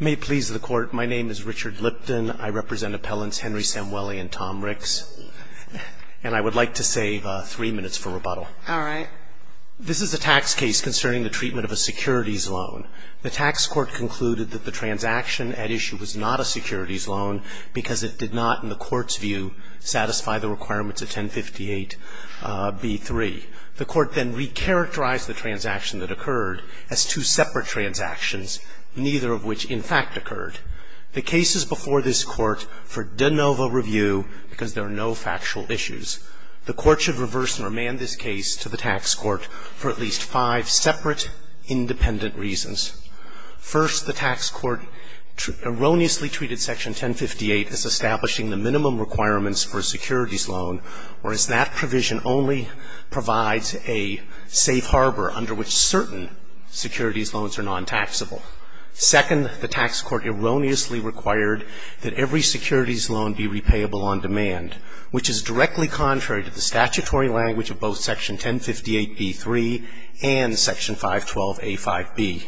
May it please the Court, my name is Richard Lipton. I represent appellants Henry Samueli and Tom Ricks, and I would like to save three minutes for rebuttal. All right. This is a tax case concerning the treatment of a securities loan. The tax court concluded that the transaction at issue was not a securities loan because it did not, in the Court's view, satisfy the requirements of 1058b3. The Court then recharacterized the transaction that occurred as two separate transactions, neither of which, in fact, occurred. The case is before this Court for de novo review because there are no factual issues. The Court should reverse and remand this case to the tax court for at least five separate, independent reasons. First, the tax court erroneously treated Section 1058 as establishing the minimum requirements for a securities loan, whereas that provision only provides a safe harbor under which certain securities loans are non-taxable. Second, the tax court erroneously required that every securities loan be repayable on demand, which is directly contrary to the statutory language of both Section 1058b3 and Section 512a5b.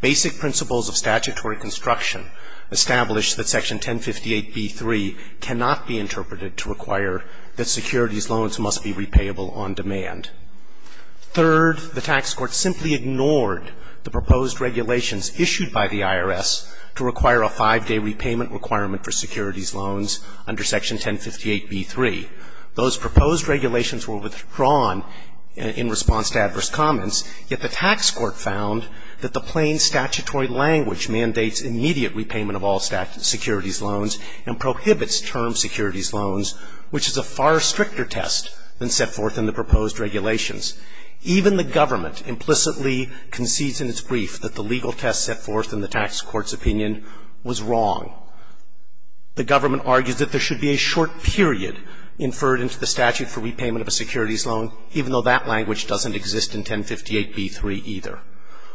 Basic principles of statutory construction establish that Section 1058b3 cannot be interpreted to require that securities loans must be repayable on demand. Third, the tax court simply ignored the proposed regulations issued by the IRS to require a five-day repayment requirement for securities loans under Section 1058b3. Those proposed regulations were withdrawn in response to adverse comments, yet the tax court found that the plain statutory language mandates immediate repayment of all securities loans and prohibits term securities loans, which is a far stricter test than set forth in the proposed regulations. Even the government implicitly concedes in its brief that the legal test set forth in the tax court's opinion was wrong. The government argues that there should be a short period inferred into the statute for repayment of a securities loan, even though that language doesn't exist in 1058b3 either.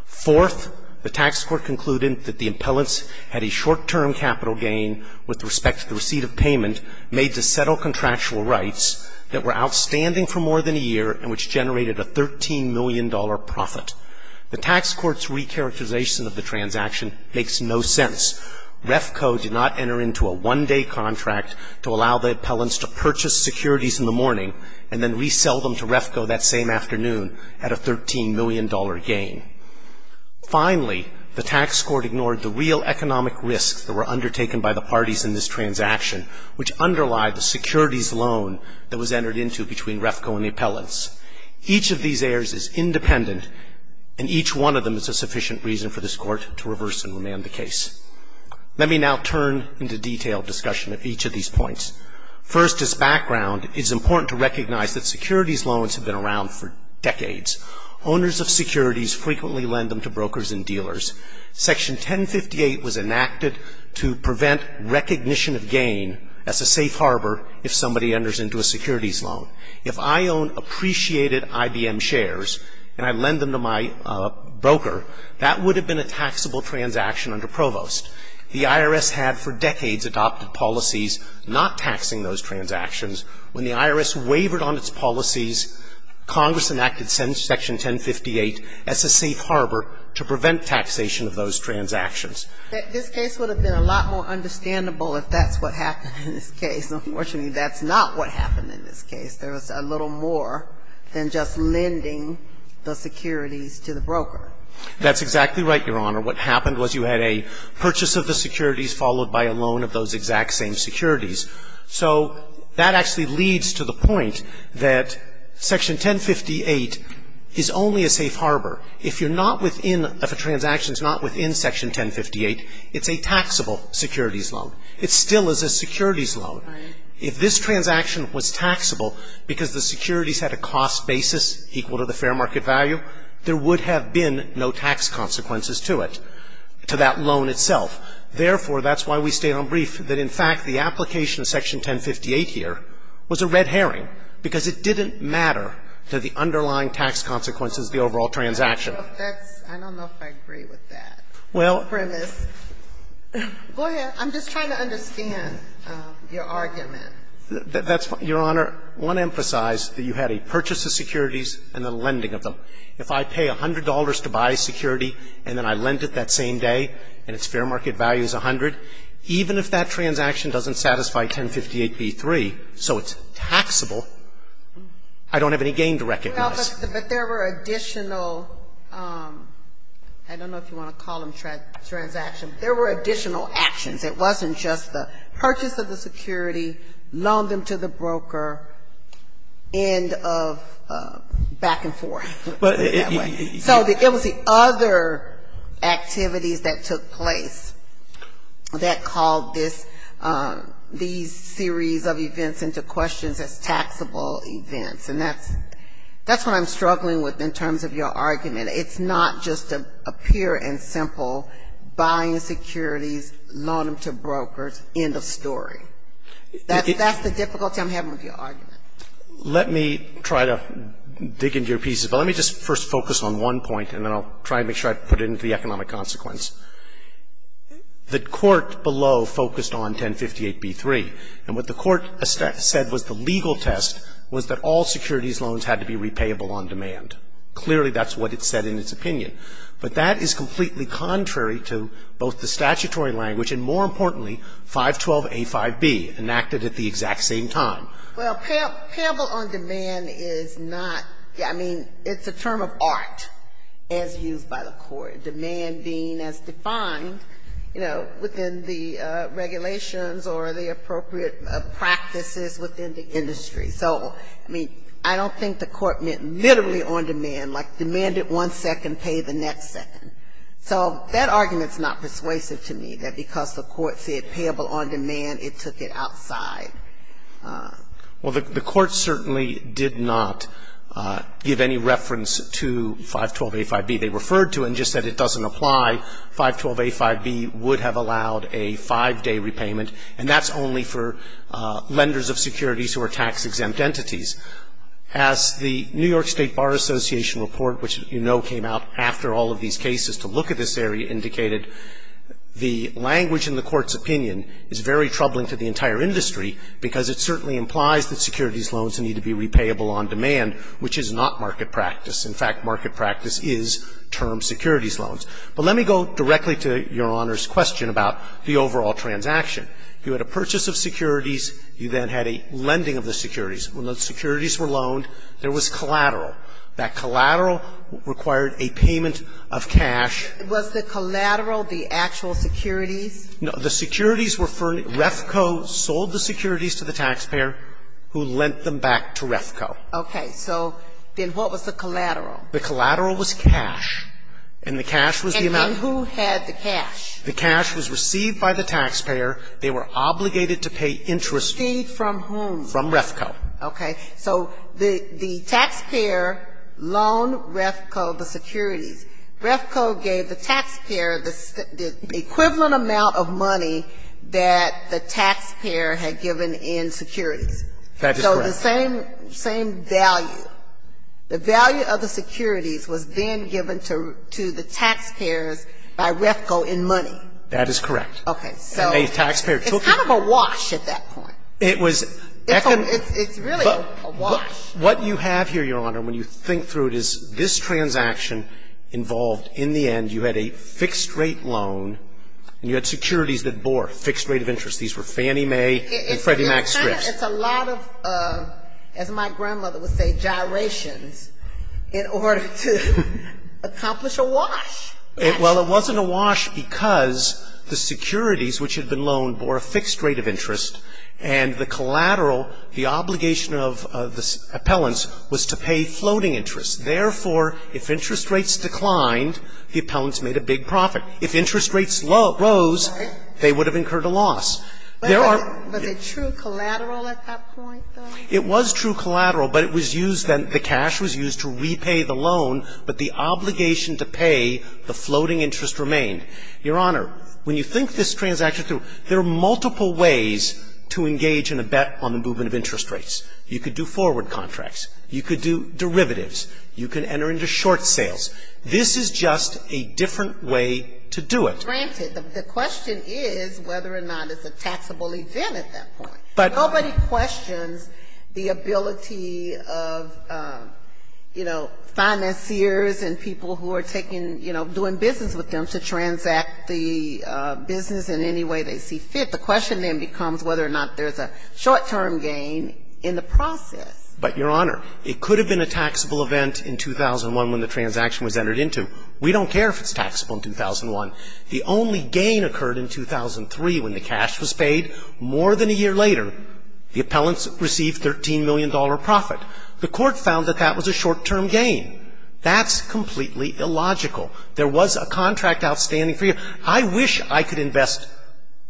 Fourth, the tax court concluded that the impellents had a short-term capital gain with respect to the receipt of payment made to settle contractual rights that were outstanding for more than a year and which generated a $13 million profit. The tax court's recharacterization of the transaction makes no sense. REFCO did not enter into a one-day contract to allow the impellents to purchase securities in the morning and then resell them to REFCO that same afternoon at a $13 million gain. Finally, the tax court ignored the real economic risks that were undertaken by the parties in this transaction, which underlie the securities loan that was entered into between REFCO and the impellents. Each of these errors is independent, and each one of them is a sufficient reason for this Court to reverse and remand the case. Let me now turn into detailed discussion of each of these points. First, as background, it's important to recognize that securities loans have been around for decades. Owners of securities frequently lend them to brokers and dealers. Section 1058 was enacted to prevent recognition of gain as a safe harbor if somebody enters into a securities loan. If I own appreciated IBM shares and I lend them to my broker, that would have been a taxable transaction under Provost. The IRS had for decades adopted policies not taxing those transactions. When the IRS wavered on its policies, Congress enacted Section 1058 as a safe harbor to prevent taxation of those transactions. This case would have been a lot more understandable if that's what happened in this case. Unfortunately, that's not what happened in this case. There was a little more than just lending the securities to the broker. That's exactly right, Your Honor. What happened was you had a purchase of the securities followed by a loan of those exact same securities. So that actually leads to the point that Section 1058 is only a safe harbor. If you're not within, if a transaction is not within Section 1058, it's a taxable securities loan. It still is a securities loan. If this transaction was taxable because the securities had a cost basis equal to the loan itself. Therefore, that's why we state on brief that, in fact, the application of Section 1058 here was a red herring, because it didn't matter to the underlying tax consequences of the overall transaction. I don't know if that's – I don't know if I agree with that premise. Well – Go ahead. I'm just trying to understand your argument. That's – Your Honor, I want to emphasize that you had a purchase of securities and a lending of them. If I pay $100 to buy a security and then I lend it that same day and its fair market value is $100, even if that transaction doesn't satisfy 1058b3, so it's taxable, I don't have any gain to recognize. But there were additional – I don't know if you want to call them transactions. There were additional actions. It wasn't just the purchase of the security, loan them to the broker, end of back and forth, put it that way. So it was the other activities that took place that called this – these series of events into questions as taxable events. And that's what I'm struggling with in terms of your argument. It's not just a pure and simple buying securities, loan them to brokers, end of story. That's the difficulty I'm having with your argument. Let me try to dig into your pieces. But let me just first focus on one point and then I'll try to make sure I put it into the economic consequence. The court below focused on 1058b3. And what the court said was the legal test was that all securities loans had to be repayable on demand. Clearly, that's what it said in its opinion. But that is completely contrary to both the statutory language and, more importantly, 512a5b, enacted at the exact same time. Well, payable on demand is not – I mean, it's a term of art as used by the court, demand being as defined, you know, within the regulations or the appropriate practices within the industry. So, I mean, I don't think the court meant literally on demand, like demanded one second, pay the next second. So that argument's not persuasive to me, that because the court said payable on demand, it took it outside. Well, the court certainly did not give any reference to 512a5b. They referred to it and just said it doesn't apply. 512a5b would have allowed a five-day repayment. And that's only for lenders of securities who are tax-exempt entities. As the New York State Bar Association report, which you know came out after all of these cases to look at this area, indicated the language in the court's opinion is very troubling to the entire industry because it certainly implies that securities loans need to be repayable on demand, which is not market practice. In fact, market practice is termed securities loans. But let me go directly to Your Honor's question about the overall transaction. You had a purchase of securities. You then had a lending of the securities. When those securities were loaned, there was collateral. That collateral required a payment of cash. Was the collateral the actual securities? No. The securities were for Refco. Refco sold the securities to the taxpayer, who lent them back to Refco. Okay. So then what was the collateral? The collateral was cash. And the cash was the amount. And then who had the cash? The cash was received by the taxpayer. They were obligated to pay interest. Received from whom? From Refco. Okay. So the taxpayer loaned Refco the securities. Refco gave the taxpayer the equivalent amount of money that the taxpayer had given in securities. That is correct. So the same value. The value of the securities was then given to the taxpayers by Refco in money. That is correct. Okay. So it's kind of a wash at that point. It was. It's really a wash. What you have here, Your Honor, when you think through it, is this transaction involved, in the end, you had a fixed rate loan, and you had securities that bore a fixed rate of interest. These were Fannie Mae and Freddie Mac strips. It's a lot of, as my grandmother would say, gyrations in order to accomplish a wash. Well, it wasn't a wash because the securities, which had been loaned, bore a fixed rate of interest, and the collateral, the obligation of the appellants was to pay floating interest. Therefore, if interest rates declined, the appellants made a big profit. If interest rates rose, they would have incurred a loss. Was it true collateral at that point, though? It was true collateral, but it was used, the cash was used to repay the loan. But the obligation to pay the floating interest remained. Your Honor, when you think this transaction through, there are multiple ways to engage in a bet on the movement of interest rates. You could do forward contracts. You could do derivatives. You can enter into short sales. This is just a different way to do it. Granted. The question is whether or not it's a taxable event at that point. Nobody questions the ability of, you know, financiers and people who are taking, you know, doing business with them to transact the business in any way they see fit. The question then becomes whether or not there's a short-term gain in the process. But, Your Honor, it could have been a taxable event in 2001 when the transaction was entered into. We don't care if it's taxable in 2001. The only gain occurred in 2003 when the cash was paid. More than a year later, the appellants received $13 million profit. The Court found that that was a short-term gain. That's completely illogical. There was a contract outstanding for you. I wish I could invest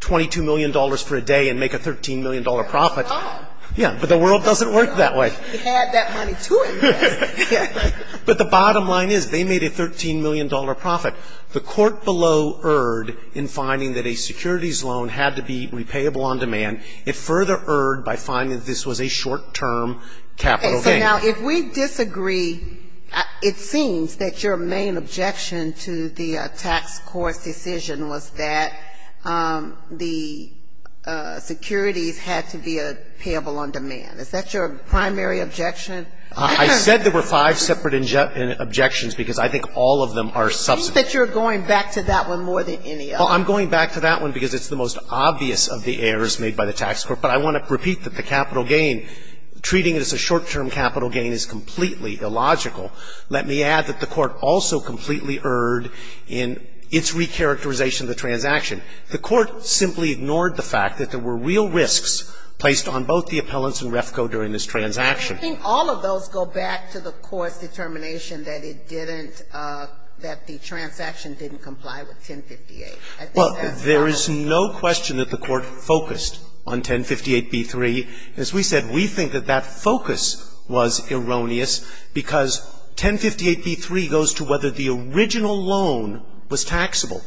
$22 million for a day and make a $13 million profit. Oh. Yeah. But the world doesn't work that way. It had that money to it. But the bottom line is they made a $13 million profit. The Court below erred in finding that a securities loan had to be repayable on demand. It further erred by finding that this was a short-term capital gain. Now, if we disagree, it seems that your main objection to the tax court's decision was that the securities had to be repayable on demand. Is that your primary objection? I said there were five separate objections because I think all of them are substantive. I think that you're going back to that one more than any other. Well, I'm going back to that one because it's the most obvious of the errors made by the tax court. But I want to repeat that the capital gain, treating it as a short-term capital gain is completely illogical. Let me add that the Court also completely erred in its recharacterization of the transaction. The Court simply ignored the fact that there were real risks placed on both the appellants and REFCO during this transaction. I think all of those go back to the Court's determination that it didn't, that the transaction didn't comply with 1058. Well, there is no question that the Court focused on 1058b-3. As we said, we think that that focus was erroneous because 1058b-3 goes to whether the original loan was taxable.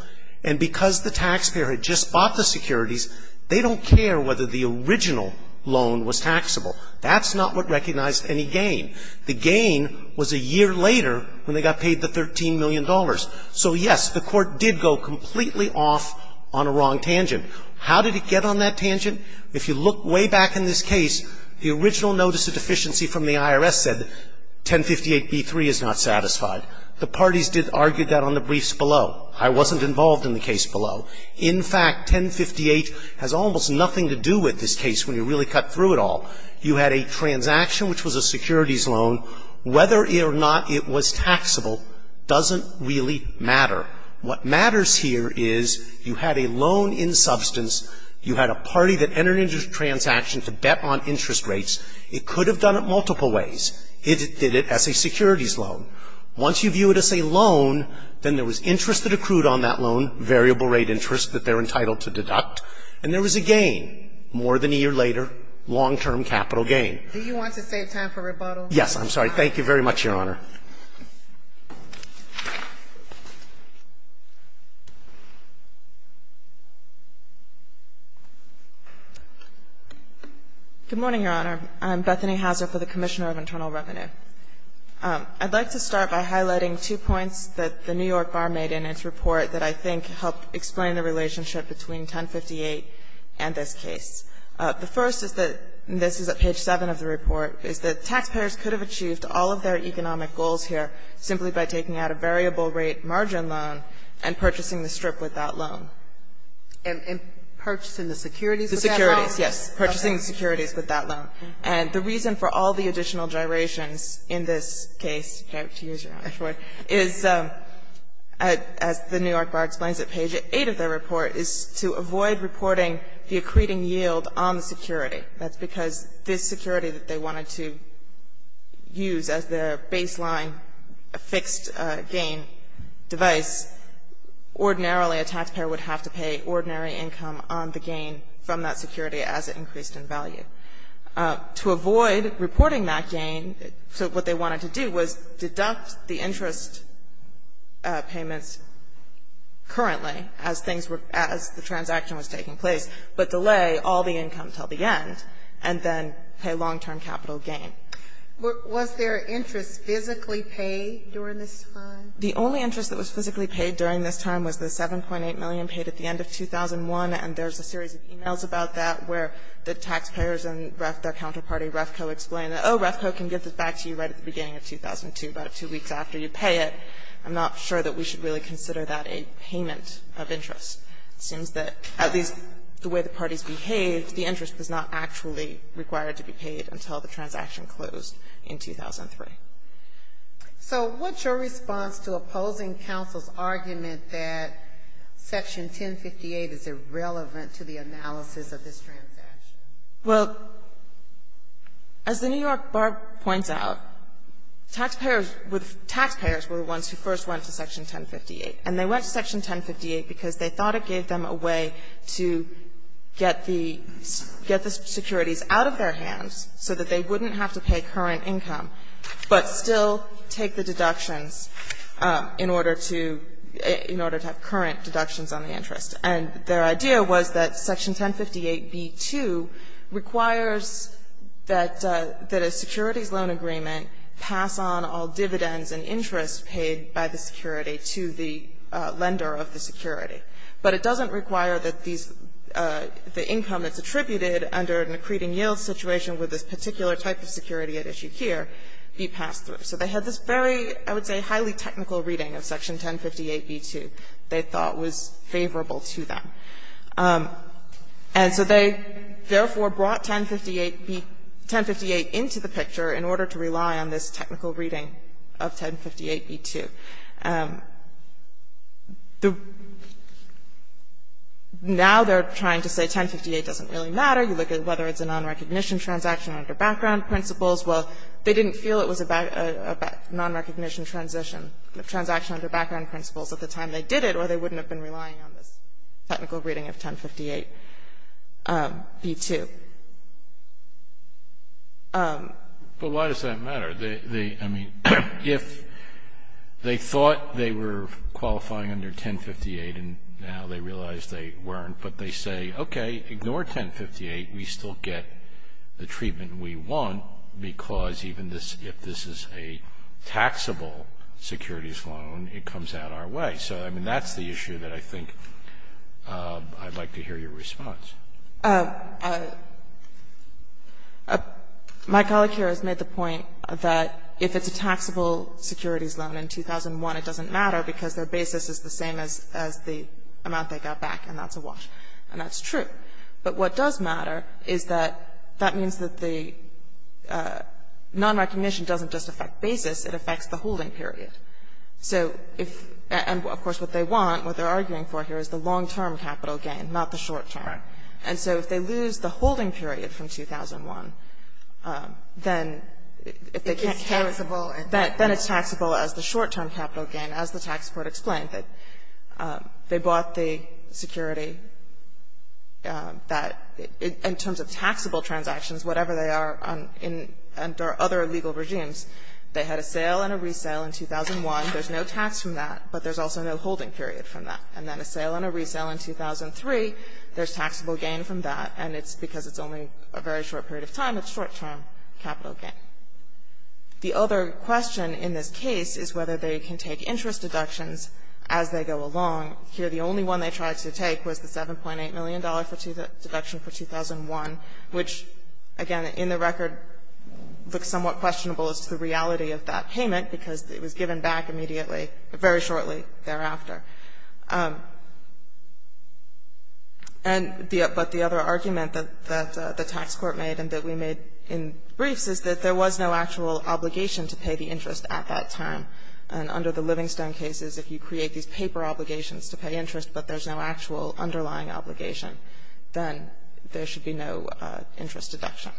And because the taxpayer had just bought the securities, they don't care whether the original loan was taxable. That's not what recognized any gain. The gain was a year later when they got paid the $13 million. So, yes, the Court did go completely off on a wrong tangent. How did it get on that tangent? If you look way back in this case, the original notice of deficiency from the IRS said 1058b-3 is not satisfied. The parties did argue that on the briefs below. I wasn't involved in the case below. In fact, 1058 has almost nothing to do with this case when you really cut through it all. You had a transaction which was a securities loan. Whether or not it was taxable doesn't really matter. What matters here is you had a loan in substance. You had a party that entered into the transaction to bet on interest rates. It could have done it multiple ways. It did it as a securities loan. Once you view it as a loan, then there was interest that accrued on that loan, variable rate interest that they're entitled to deduct. And there was a gain more than a year later, long-term capital gain. Do you want to save time for rebuttal? Yes, I'm sorry. Thank you very much, Your Honor. Good morning, Your Honor. I'm Bethany Hauser for the Commissioner of Internal Revenue. I'd like to start by highlighting two points that the New York Bar made in its report that I think helped explain the relationship between 1058 and this case. The first is that, and this is at page 7 of the report, is that taxpayers could have achieved all of their economic goals here simply by taking out a variable-rate margin loan and purchasing the strip with that loan. And purchasing the securities with that loan? The securities, yes. Purchasing the securities with that loan. And the reason for all the additional gyrations in this case is, as the New York Bar explains at page 8 of their report, is to avoid reporting the accreting yield on the security. That's because this security that they wanted to use as their baseline fixed-gain device, ordinarily a taxpayer would have to pay ordinary income on the gain from that security as it increased in value. To avoid reporting that gain, so what they wanted to do was deduct the interest payments currently as things were as the transaction was taking place, but delay all the income until the end, and then pay long-term capital gain. Was their interest physically paid during this time? The only interest that was physically paid during this time was the 7.8 million paid at the end of 2001, and there's a series of e-mails about that where the taxpayers and their counterparty, REFCO, explain that, oh, REFCO can get this back to you right at the beginning of 2002, about two weeks after you pay it. I'm not sure that we should really consider that a payment of interest. It seems that at least the way the parties behaved, the interest was not actually required to be paid until the transaction closed in 2003. So what's your response to opposing counsel's argument that Section 1058 is irrelevant to the analysis of this transaction? Well, as the New York Bar points out, taxpayers were the ones who first went to Section 1058, and they went to Section 1058 because they thought it gave them a way to get the securities out of their hands so that they wouldn't have to pay current income, but still take the deductions in order to have current deductions on the interest. And their idea was that Section 1058b-2 requires that a securities loan agreement pass on all dividends and interest paid by the security to the lender of the security, but it doesn't require that these the income that's attributed under an accreting yield situation with this particular type of security at issue here be passed through. So they had this very, I would say, highly technical reading of Section 1058b-2 that they thought was favorable to them. And so they therefore brought 1058b – 1058 into the picture in order to rely on this technical reading of 1058b-2. The – now they're trying to say 1058 doesn't really matter. You look at whether it's a nonrecognition transaction under background principles. Well, they didn't feel it was a nonrecognition transition – transaction under background principles at the time they did it, or they wouldn't have been relying on this technical reading of 1058b-2. But why does that matter? They – I mean, if they thought they were qualifying under 1058 and now they realize they weren't, but they say, okay, ignore 1058, we still get the treatment we want because even if this is a taxable securities loan, it comes out our way. So, I mean, that's the issue that I think I'd like to hear your response. My colleague here has made the point that if it's a taxable securities loan in 2001, it doesn't matter because their basis is the same as the amount they got back, and that's a wash, and that's true. But what does matter is that that means that the nonrecognition doesn't just affect basis, it affects the holding period. So if – and, of course, what they want, what they're arguing for here is the long-term capital gain, not the short-term. And so if they lose the holding period from 2001, then if they can't – It's taxable. Then it's taxable as the short-term capital gain, as the tax court explained, that they bought the security that, in terms of taxable transactions, whatever they are under other legal regimes, they had a sale and a resale in 2001. There's no tax from that, but there's also no holding period from that. And then a sale and a resale in 2003, there's taxable gain from that, and it's because it's only a very short period of time, it's short-term capital gain. The other question in this case is whether they can take interest deductions as they go along. Here the only one they tried to take was the $7.8 million deduction for 2001, which, again, in the record looks somewhat questionable as to the reality of that payment because it was given back immediately, very shortly thereafter. And the – but the other argument that the tax court made and that we made in briefs is that there was no actual obligation to pay the interest at that time. And under the Livingstone cases, if you create these paper obligations to pay interest but there's no actual underlying obligation, then there should be no interest deduction.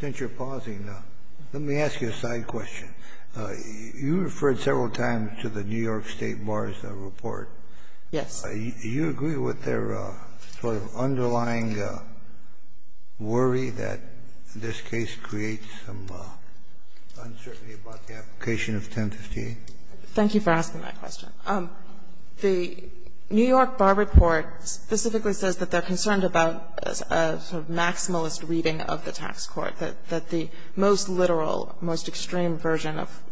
Since you're pausing, let me ask you a side question. You referred several times to the New York State Bar's report. Yes. Do you agree with their sort of underlying worry that this case creates some uncertainty about the application of 1058? Thank you for asking that question. The New York Bar report specifically says that they're concerned about a sort of maximalist reading of the tax court, that the most literal, most extreme version of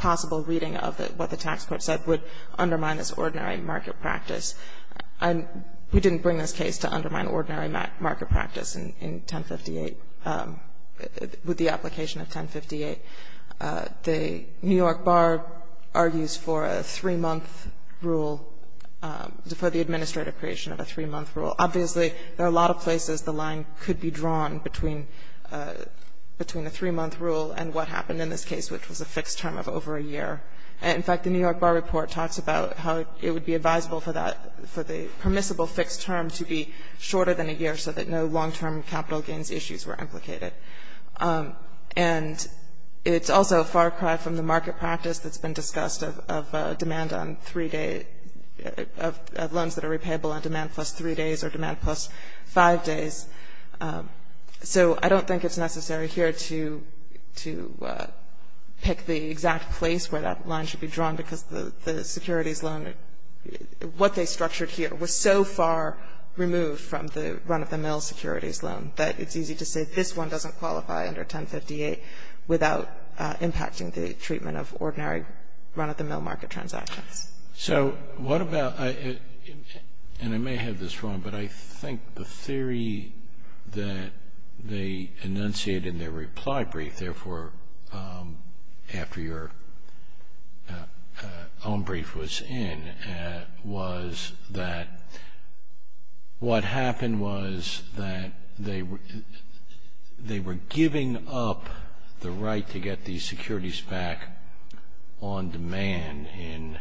possible reading of what the tax court said would undermine this ordinary market practice. And we didn't bring this case to undermine ordinary market practice in 1058, with the application of 1058. The New York Bar argues for a three-month rule, for the administrative creation of a three-month rule. Obviously, there are a lot of places the line could be drawn between the three-month rule and what happened in this case, which was a fixed term of over a year. In fact, the New York Bar report talks about how it would be advisable for that, for the permissible fixed term to be shorter than a year so that no long-term capital gains issues were implicated. And it's also a far cry from the market practice that's been discussed of demand on three-day, of loans that are repayable on demand plus three days or demand plus five days. So I don't think it's necessary here to pick the exact place where that line should be drawn, because the securities loan, what they structured here was so far removed from the run-of-the-mill securities loan that it's easy to say this one doesn't qualify under 1058 without impacting the treatment of ordinary run-of-the-mill market transactions. So what about, and I may have this wrong, but I think the theory that they enunciated in their reply brief, therefore, after your own brief was in, was that what happened was that they were giving up the right to get these securities back on demand in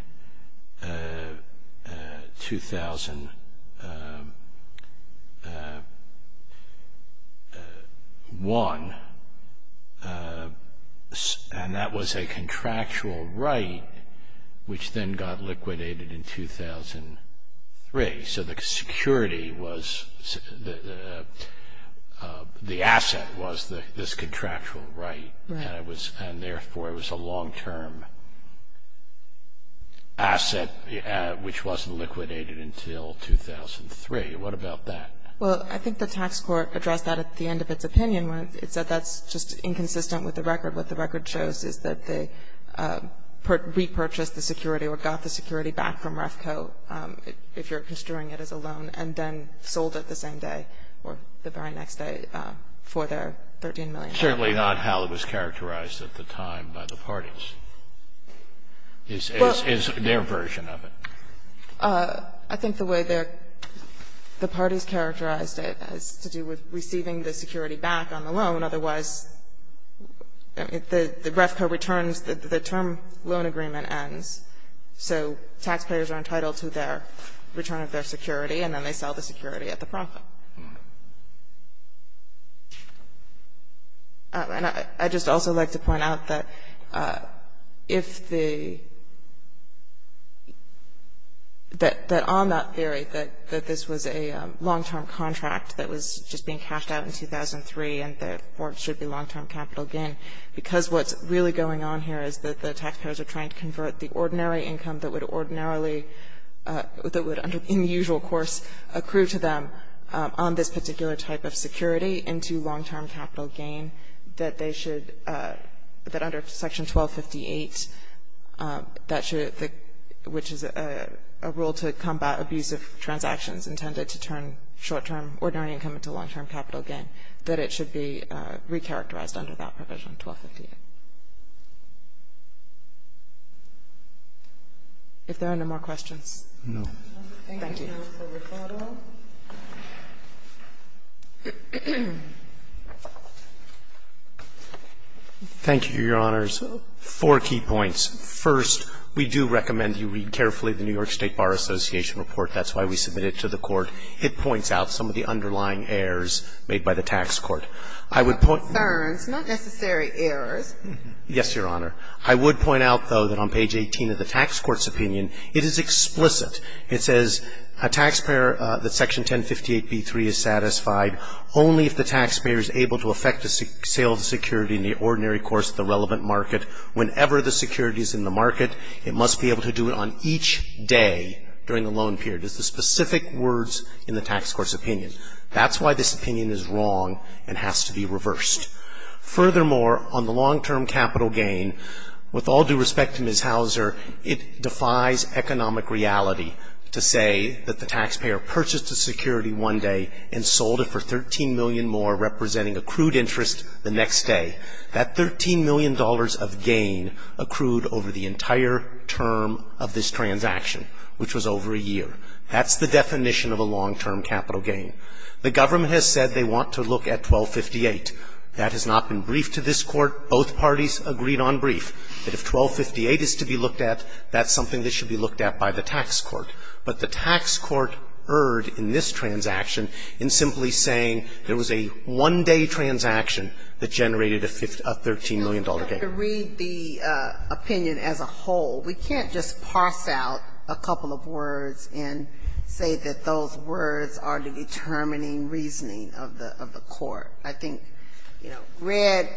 2001, and that was a contractual right which then got liquidated in 2003. So the security was, the asset was this contractual right. And therefore, it was a long-term asset which wasn't liquidated until 2003. What about that? Well, I think the tax court addressed that at the end of its opinion. It said that's just inconsistent with the record. What the record shows is that they repurchased the security or got the security back from REFCO, if you're construing it as a loan, and then sold it the same day or the very next day for their $13 million. It's certainly not how it was characterized at the time by the parties, is their version of it. I think the way the parties characterized it has to do with receiving the security back on the loan. Otherwise, if the REFCO returns, the term loan agreement ends. So taxpayers are entitled to their return of their security, and then they sell the security at the profit. I just also like to point out that if the, that on that theory, that this was a long-term contract that was just being cashed out in 2003, and therefore it should be long-term capital gain, because what's really going on here is that the taxpayers are trying to convert the ordinary income that would ordinarily, that would in the usual course, accrue to them on this particular type of security into long-term capital gain, that they should, that under Section 1258, that should, which is a rule to combat abusive transactions intended to turn short-term ordinary income into long-term capital gain, that it should be recharacterized under that provision, 1258. If there are no more questions. No. Thank you. Thank you, Your Honors. Four key points. First, we do recommend you read carefully the New York State Bar Association report. That's why we submit it to the Court. It points out some of the underlying errors made by the tax court. I would point out. Concerns, not necessary errors. Yes, Your Honor. I would point out, though, that on page 18 of the tax court's opinion, it is explicitly explicit. It says, a taxpayer, that Section 1058b3 is satisfied only if the taxpayer is able to affect the sales security in the ordinary course of the relevant market. Whenever the security is in the market, it must be able to do it on each day during the loan period. It's the specific words in the tax court's opinion. That's why this opinion is wrong and has to be reversed. Furthermore, on the long-term capital gain, with all due respect to Ms. Hauser, it defies economic reality to say that the taxpayer purchased a security one day and sold it for $13 million more, representing accrued interest, the next day. That $13 million of gain accrued over the entire term of this transaction, which was over a year. That's the definition of a long-term capital gain. The government has said they want to look at 1258. That has not been briefed to this Court. Both parties agreed on brief, that if 1258 is to be looked at, that's something that should be looked at by the tax court. But the tax court erred in this transaction in simply saying there was a one-day transaction that generated a $13 million gain. Ginsburg. To read the opinion as a whole, we can't just parse out a couple of words and say that those words are the determining reasoning of the Court. I think, you know, read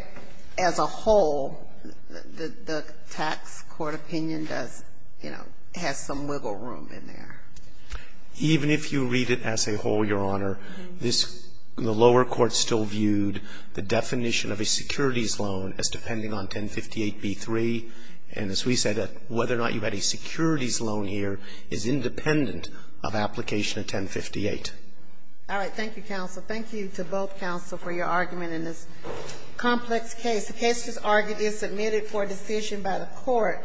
as a whole, the tax court opinion does, you know, has some wiggle room in there. Even if you read it as a whole, Your Honor, the lower court still viewed the definition of a securities loan as depending on 1058b3. And as we said, whether or not you had a securities loan here is independent of application of 1058. All right. Thank you, Counsel. Thank you to both counsel for your argument in this complex case. The case, as argued, is submitted for decision by the Court.